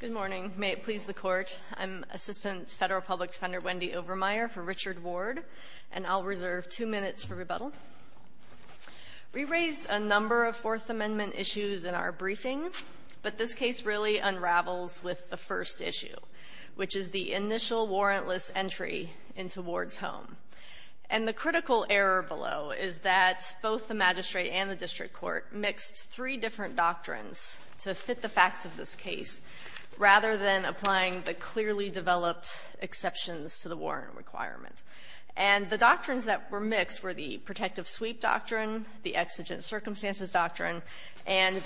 Good morning. May it please the Court, I'm Assistant Federal Public Defender Wendy Overmeyer for Richard Ward, and I'll reserve two minutes for rebuttal. We raised a number of Fourth Amendment issues in our briefing, but this case really unravels with the first issue, which is the initial warrantless entry into Ward's home. And the critical error below is that both the exigent circumstances doctrine and the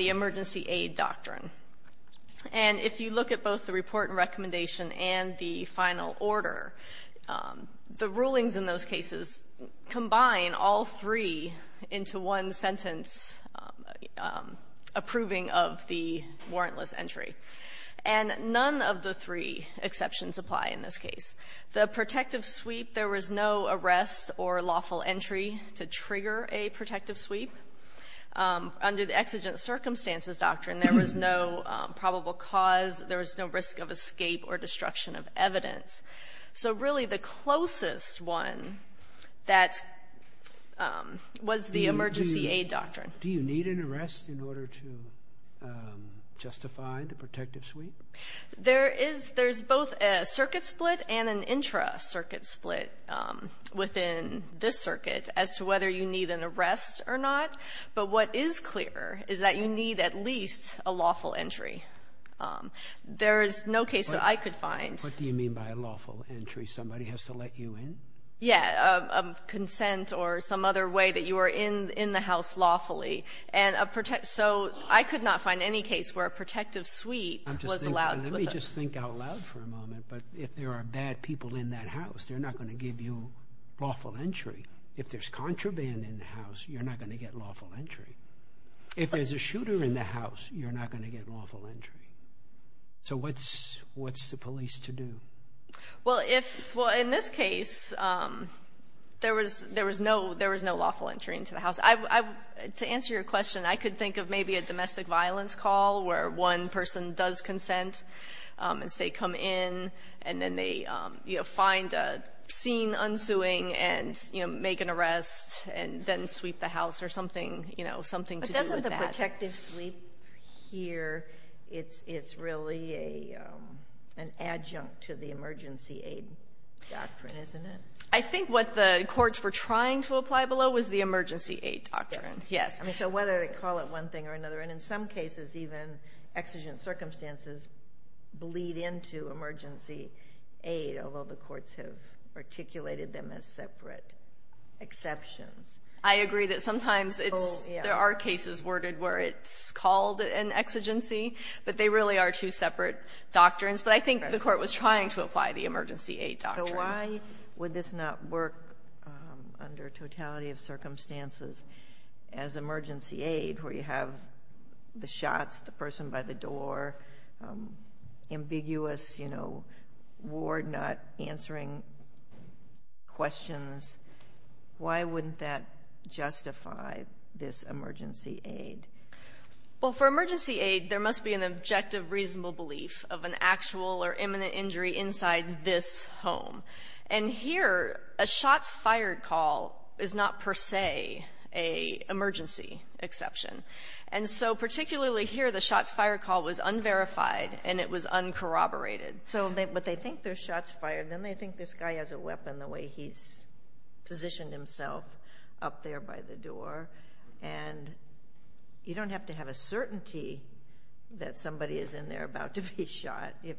emergency aid doctrine, and if you look at both the report and recommendation and the final order, the rulings in those cases combine all three into one sentence approving of the warrantless entry. And none of the three exceptions apply in this case. The protective sweep, there was no arrest or lawful entry to trigger a protective sweep. Under the exigent circumstances doctrine, there was no probable cause, there was no risk of escape or destruction of evidence. So really the closest one that was the right one to find, the protective sweep? There is, there's both a circuit split and an intra-circuit split within this circuit as to whether you need an arrest or not. But what is clear is that you need at least a lawful entry. There is no case that I could find. What do you mean by a lawful entry? Somebody has to let you in? Yeah, a consent or some other way that you are in the house lawfully. So I could not find any case where a protective sweep was allowed. Let me just think out loud for a moment, but if there are bad people in that house, they're not going to give you lawful entry. If there's contraband in the house, you're not going to get lawful entry. If there's a shooter in the house, you're not going to get lawful entry. So what's the police to do? Well, in this case, there was no lawful entry into the house. To answer your question, I could think of maybe a domestic violence call where one person does consent and say come in and then they find a scene unsuing and make an arrest and then sweep the house or something to do with that. But doesn't the protective sweep here, it's really an adjunct to the emergency aid doctrine, isn't it? I think what the courts were trying to apply below was the emergency aid doctrine. Yes. So whether they call it one thing or another, and in some cases even exigent circumstances bleed into emergency aid, although the courts have separate exceptions. I agree that sometimes there are cases where it's called an exigency, but they really are two separate doctrines. But I think the court was trying to apply the emergency aid doctrine. So why would this not work under totality of circumstances as emergency aid where you have the shots, the person by the door, ambiguous ward not answering questions. Why wouldn't that justify this emergency aid? Well, for emergency aid, there must be an objective, reasonable belief of an actual or imminent injury inside this home. And here, a shots fired call is not per se a emergency exception. And so particularly here, the shots fired call was unverified and it was uncorroborated. But they think they're shots fired, then they think this guy has a weapon the way he's positioned himself up there by the door. And you don't have to have a certainty that somebody is in there about to be shot if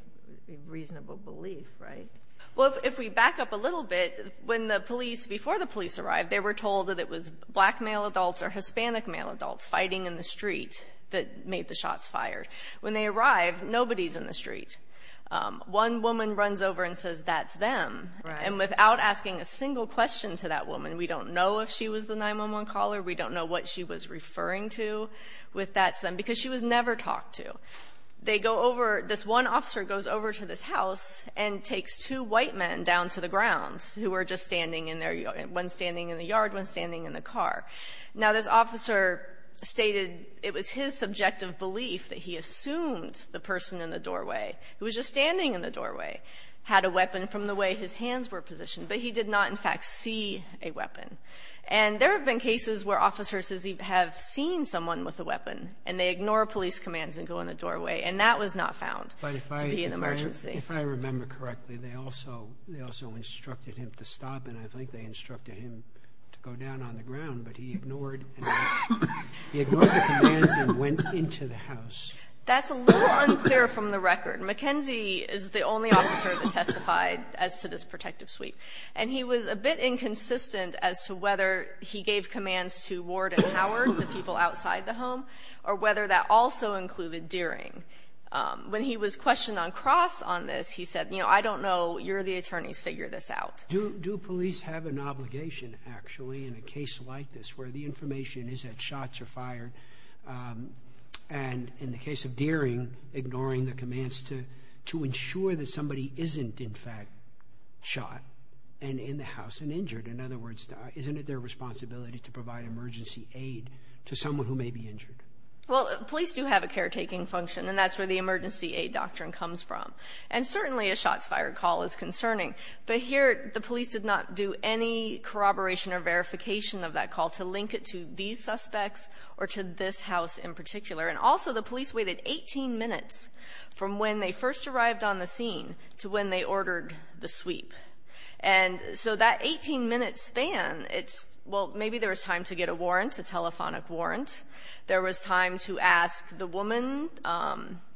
reasonable belief, right? Well, if we back up a little bit, when the police before the police arrived, they were told that it was black male adults or Hispanic male adults fighting in the street that made the shots fired when they arrived. Nobody's in the street. One woman runs over and says that's them. And without asking a single question to that woman, we don't know if she was the 911 caller. We don't know what she was referring to with that because she was never talked to. They go over, this one officer goes over to this house and takes two white men down to the ground who were just standing in their, one standing in the yard, one standing in the car. Now, this officer stated it was his subjective belief that he assumed the person in the doorway, who was just standing in the doorway, had a weapon from the way his hands were positioned. But he did not, in fact, see a weapon. And there have been cases where officers have seen someone with a weapon and they ignore police commands and go in the doorway. And that was not found to be an emergency. If I remember correctly, they also instructed him to stop and I think they instructed him to go down on the ground, but he ignored the commands and went into the house. That's a little unclear from the record. McKenzie is the only to whether he gave commands to Ward and Howard, the people outside the home, or whether that also included Deering. When he was questioned on Cross on this, he said, you know, I don't know. You're the attorneys. Figure this out. Do police have an obligation, actually, in a case like this where the information is that shots are fired and in the case of Deering, ignoring the commands to ensure that somebody isn't, in fact, shot and in the house and injured. In other words, isn't it their responsibility to provide emergency aid to someone who may be injured? Well, police do have a caretaking function and that's where the emergency aid doctrine comes from. And certainly a shots fired call is concerning, but here the police did not do any corroboration or verification of that call to link it to these suspects or to this house in particular. And also the police waited 18 minutes from when they first arrived on the scene to when they ordered the sweep. And so that 18 minute span, it's, well, maybe there was time to get a warrant, a telephonic warrant. There was time to ask the woman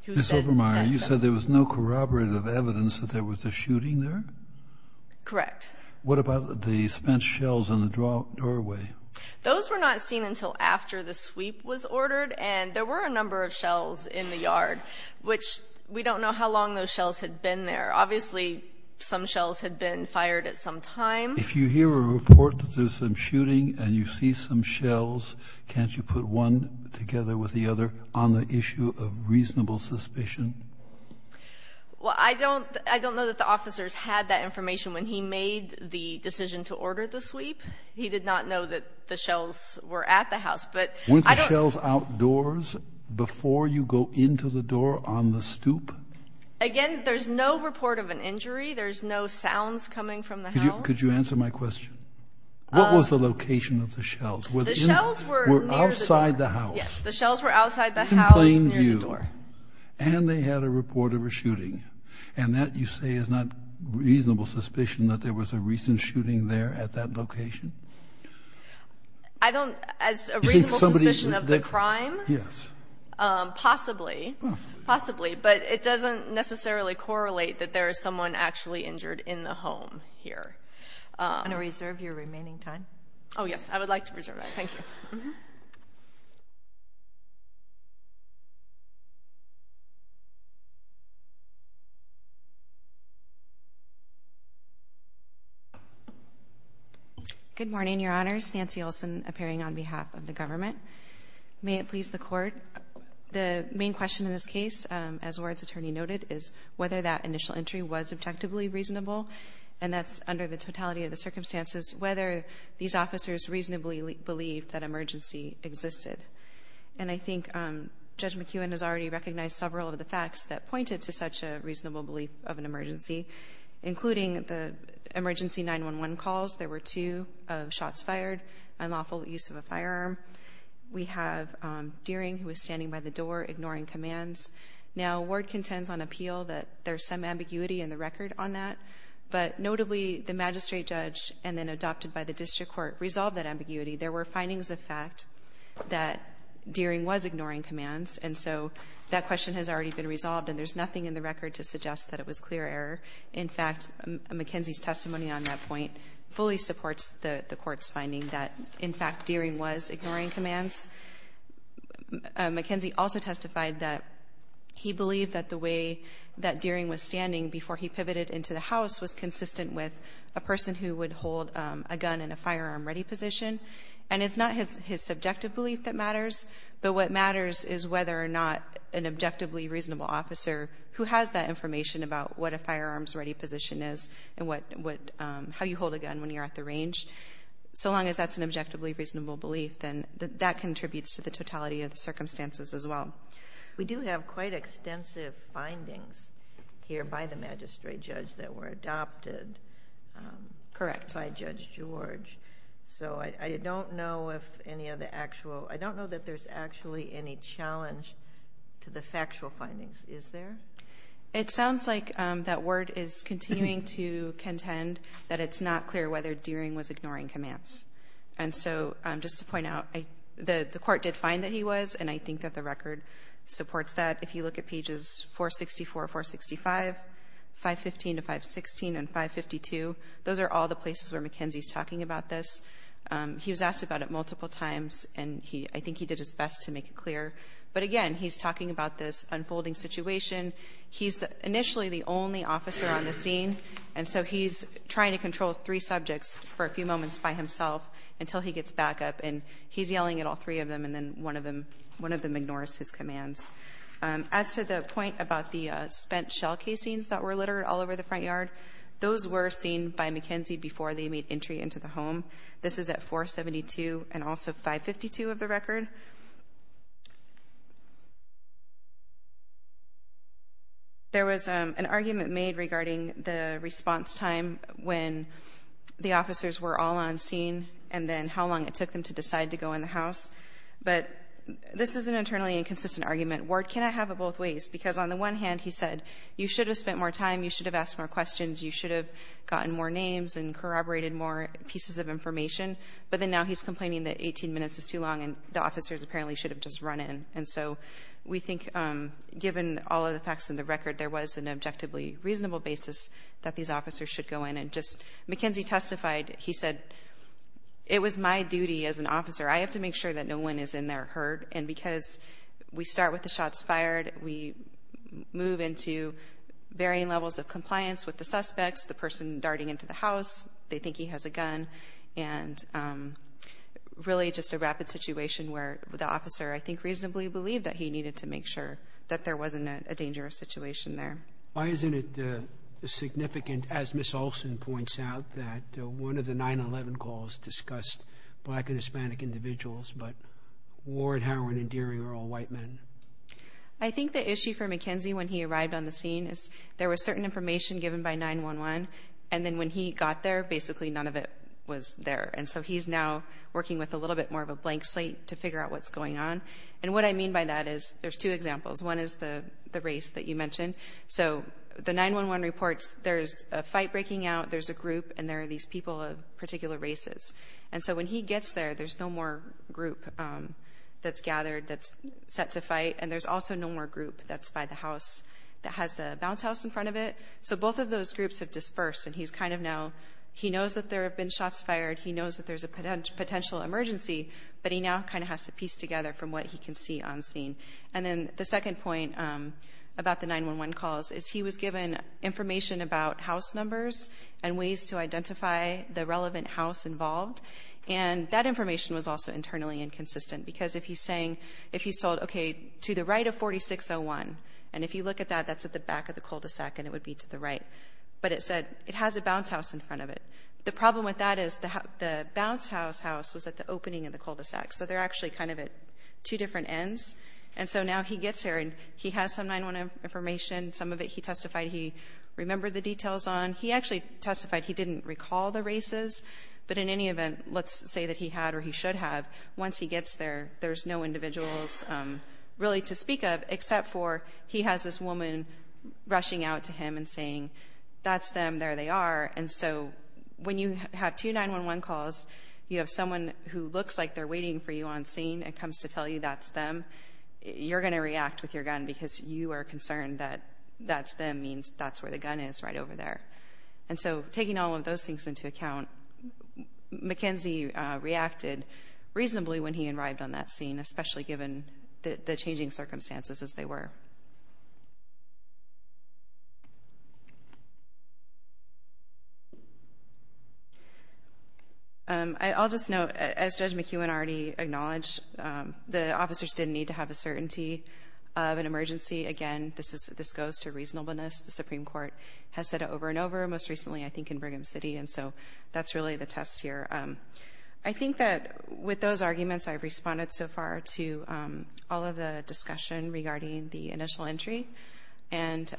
who said... Miss Obermeyer, you said there was no corroborative evidence that there was a shooting there? Correct. What about the spent shells in the doorway? Those were not seen until after the sweep was ordered and there were a number of shells in the yard, which we don't know how long those shells had been there. Obviously, some shells had been fired at some time. If you hear a report that there's some shooting and you see some shells, can't you put one together with the other on the issue of reasonable suspicion? Well, I don't know that the officers had that information when he made the decision to order the sweep. He did not know that the shells were at the house, but... Weren't the shells outdoors before you go into the door on the stoop? Again, there's no report of an injury. There's no sounds coming from the house. Could you answer my question? What was the location of the shells? The shells were outside the house. Yes, the shells were outside the house near the door. And they had a report of a shooting. And that, you say, is not reasonable suspicion that there was a recent shooting there at that location? I don't... As a reasonable suspicion of the crime? Yes. Possibly. Possibly, but it doesn't necessarily correlate that there is someone actually injured in the home here. Do you want to reserve your remaining time? Oh, yes. I would like to reserve my remaining time. Good morning, Your Honors. Nancy Olsen appearing on behalf of the government. May it please the Court, the main question in this case, as Ward's attorney noted, is whether that initial entry was objectively reasonable, and that's under the totality of the circumstances, whether these officers reasonably believed that emergency existed. And I think Judge McEwen has already recognized several of the facts that pointed to such a reasonable belief of an emergency, including the emergency 911 calls. There were two shots fired, unlawful use of a firearm. We have Deering, who was standing by the door, ignoring commands. Now, Ward contends on appeal that there's some ambiguity in the record on that, but notably, the magistrate judge and then adopted by the district court resolved that ambiguity. There were findings of fact that Deering was ignoring commands, and so that question has already been resolved, and there's nothing in the record to suggest that it was clear error. In fact, McKenzie's testimony on that point fully supports the Court's finding that, in fact, Deering was ignoring commands. McKenzie also testified that he believed that the way that Deering was standing before he pivoted into the house was consistent with a person who would hold a gun in a firearm-ready position. And it's not his subjective belief that matters, but what matters is whether or not an objectively reasonable officer who has that information about what a firearms-ready position is and how you hold a gun when you're at the range. So long as that's an objectively reasonable belief, then that contributes to the totality of the circumstances as well. We do have quite extensive findings here by the magistrate judge that were adopted by Judge George. So I don't know if any of the actual, I don't know that there's actually any challenge to the factual findings. Is there? It sounds like that Ward is continuing to find out. The Court did find that he was, and I think that the record supports that. If you look at pages 464, 465, 515 to 516 and 552, those are all the places where McKenzie's talking about this. He was asked about it multiple times, and I think he did his best to make it clear. But again, he's talking about this unfolding situation. He's initially the only officer on the scene, and so he's trying to control three subjects for a few moments by himself until he gets back up. And he's yelling at all three of them, and then one of them ignores his commands. As to the point about the spent shell casings that were littered all over the front yard, those were seen by McKenzie before they made entry into the home. This is at 472 and also 552 of the record. There was an argument made regarding the response time when the officers were all on scene, and then how long it took them to decide to go in the house. But this is an internally inconsistent argument. Ward cannot have it both ways, because on the one hand, he said you should have spent more time, you should have asked more questions, you should have gotten more names and corroborated more pieces of information. But then now he's complaining that 18 minutes is too long and the officers apparently should have just run in. And so we think, given all of the facts in the record, there was an objectively reasonable basis that these officers should go in. McKenzie testified, he said, it was my duty as an officer. I have to make sure that no one is in their herd. And because we start with the shots fired, we move into varying levels of compliance with the suspects, the person darting into the house, they think he has a gun, and really just a rapid situation where the officer, I think, reasonably believed that he needed to make sure that there wasn't a dangerous situation there. Why isn't it significant, as Ms. Olson points out, that one of the 9-11 calls discussed black and Hispanic individuals, but Ward, the chief of McKenzie, when he arrived on the scene, there was certain information given by 9-11, and then when he got there, basically none of it was there. And so he's now working with a little bit more of a blank slate to figure out what's going on. And what I mean by that is, there's two examples. One is the race that you mentioned. So the 9-11 reports, there's a fight breaking out, there's a group, and there are these people of particular races. And so when he gets there, there's no more group that's gathered, that's set to fight, and there's also no more group that's by the house, that has the bounce house in front of it. So both of those groups have dispersed, and he's kind of now, he knows that there have been shots fired, he knows that there's a potential emergency, but he now kind of has to piece together from what he can see on scene. And then the second point about the 9-11 calls is he was given information about house numbers and ways to identify the relevant house involved. And that information was also internally inconsistent, because if he's saying, if he's told, okay, to the right of 4601, and if you look at that, that's at the back of the cul-de-sac, and it would be to the right. But it said, it has a bounce house in front of it. The problem with that is, the bounce house house was at the opening of the cul-de-sac. So they're actually kind of at two different ends. And so now he gets there, and he has some 9-11 information. Some of it he testified he remembered the details on. He actually testified he didn't recall the races, but in any event, let's say that he had or he should have, once he gets there, there's no individuals really to speak of, except for he has this woman rushing out to him and saying, that's them, there they are. And so when you have two 9-11 calls, you have someone who looks like they're waiting for you on scene and comes to tell you that's them, you're going to react with your gun because you are concerned that that's them means that's where the gun is, right over there. And so taking all of those things into account, McKenzie reacted reasonably when he arrived on that scene, especially given the changing circumstances as they were. I'll just note, as Judge McEwen already acknowledged, the officers didn't need to have a certainty of an emergency. Again, this goes to reasonableness. The Supreme Court has said it over and over, most recently I think in Brigham City. And so that's really the test here. I think that with those arguments, I've responded so far to all of the discussion regarding the initial entry. And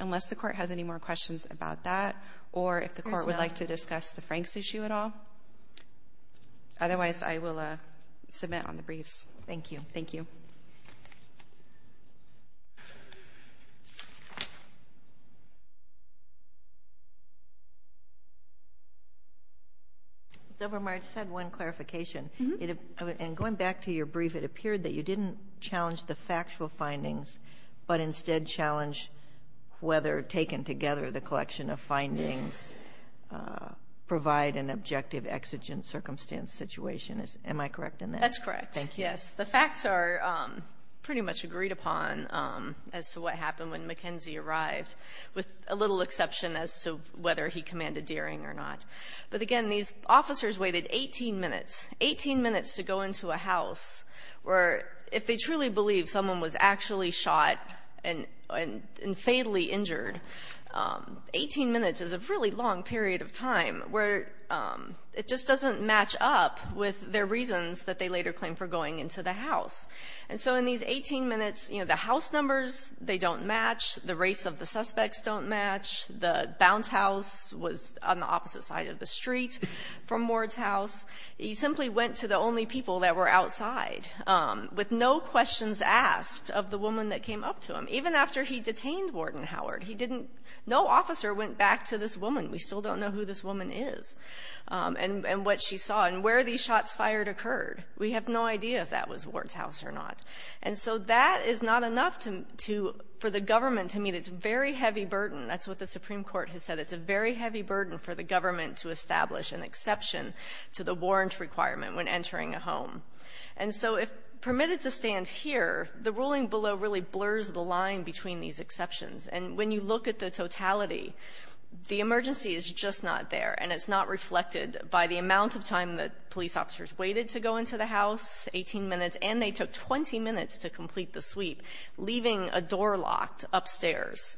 unless the Court has any more questions about that, or if the Court would like to discuss the Franks issue at all, otherwise I will submit on the briefs. Thank you. Thank you. Governor March said one clarification. And going back to your brief, it appeared that you didn't challenge the factual findings, but instead challenged whether taken together, the collection of findings provide an objective exigent circumstance situation. Am I correct in that? That's correct. Yes. The facts are pretty much agreed upon as to what happened when McKenzie arrived, with a little exception as to whether he commanded Deering or not. But again, these officers waited 18 minutes, 18 minutes to go into a house where if they truly believed someone was actually shot and fatally injured, 18 minutes is a really long period of time where it just doesn't match up with their reasons that they later claim for going into the house. And so in these 18 minutes, the house numbers, they don't match. The race of the suspects don't match. The bounce house was on the opposite side of the street from Ward's house. He simply went to the only people that were outside, with no officer, went back to this woman. We still don't know who this woman is and what she saw and where these shots fired occurred. We have no idea if that was Ward's house or not. And so that is not enough for the government to meet its very heavy burden. That's what the Supreme Court has said. It's a very heavy burden for the government to establish an exception to the warrant requirement when entering a home. And so if permitted to stand here, the ruling below really blurs the line between these exceptions. And when you look at the totality, the emergency is just not there. And it's not reflected by the amount of time that police officers waited to go into the house, 18 minutes, and they took 20 minutes to complete the sweep, leaving a door locked upstairs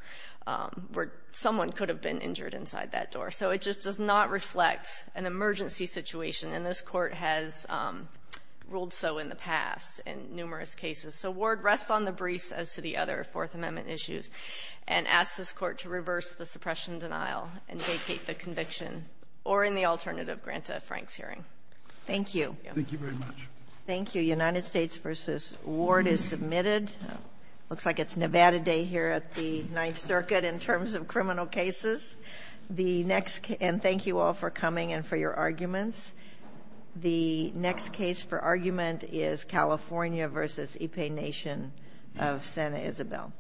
where someone could have been injured inside that door. So it just does not reflect an emergency situation. And this Court has ruled so in the past in numerous cases. So Ward rests on the briefs as to the other Fourth Amendment issues and asks this Court to reverse the suppression denial and vacate the conviction, or in the alternative, grant a Franks hearing. Thank you. Thank you very much. Thank you. United States v. Ward is submitted. Looks like it's Nevada Day here at the Ninth Circuit in terms of criminal arguments. The next case for argument is California v. Ipe Nation of Santa Isabel.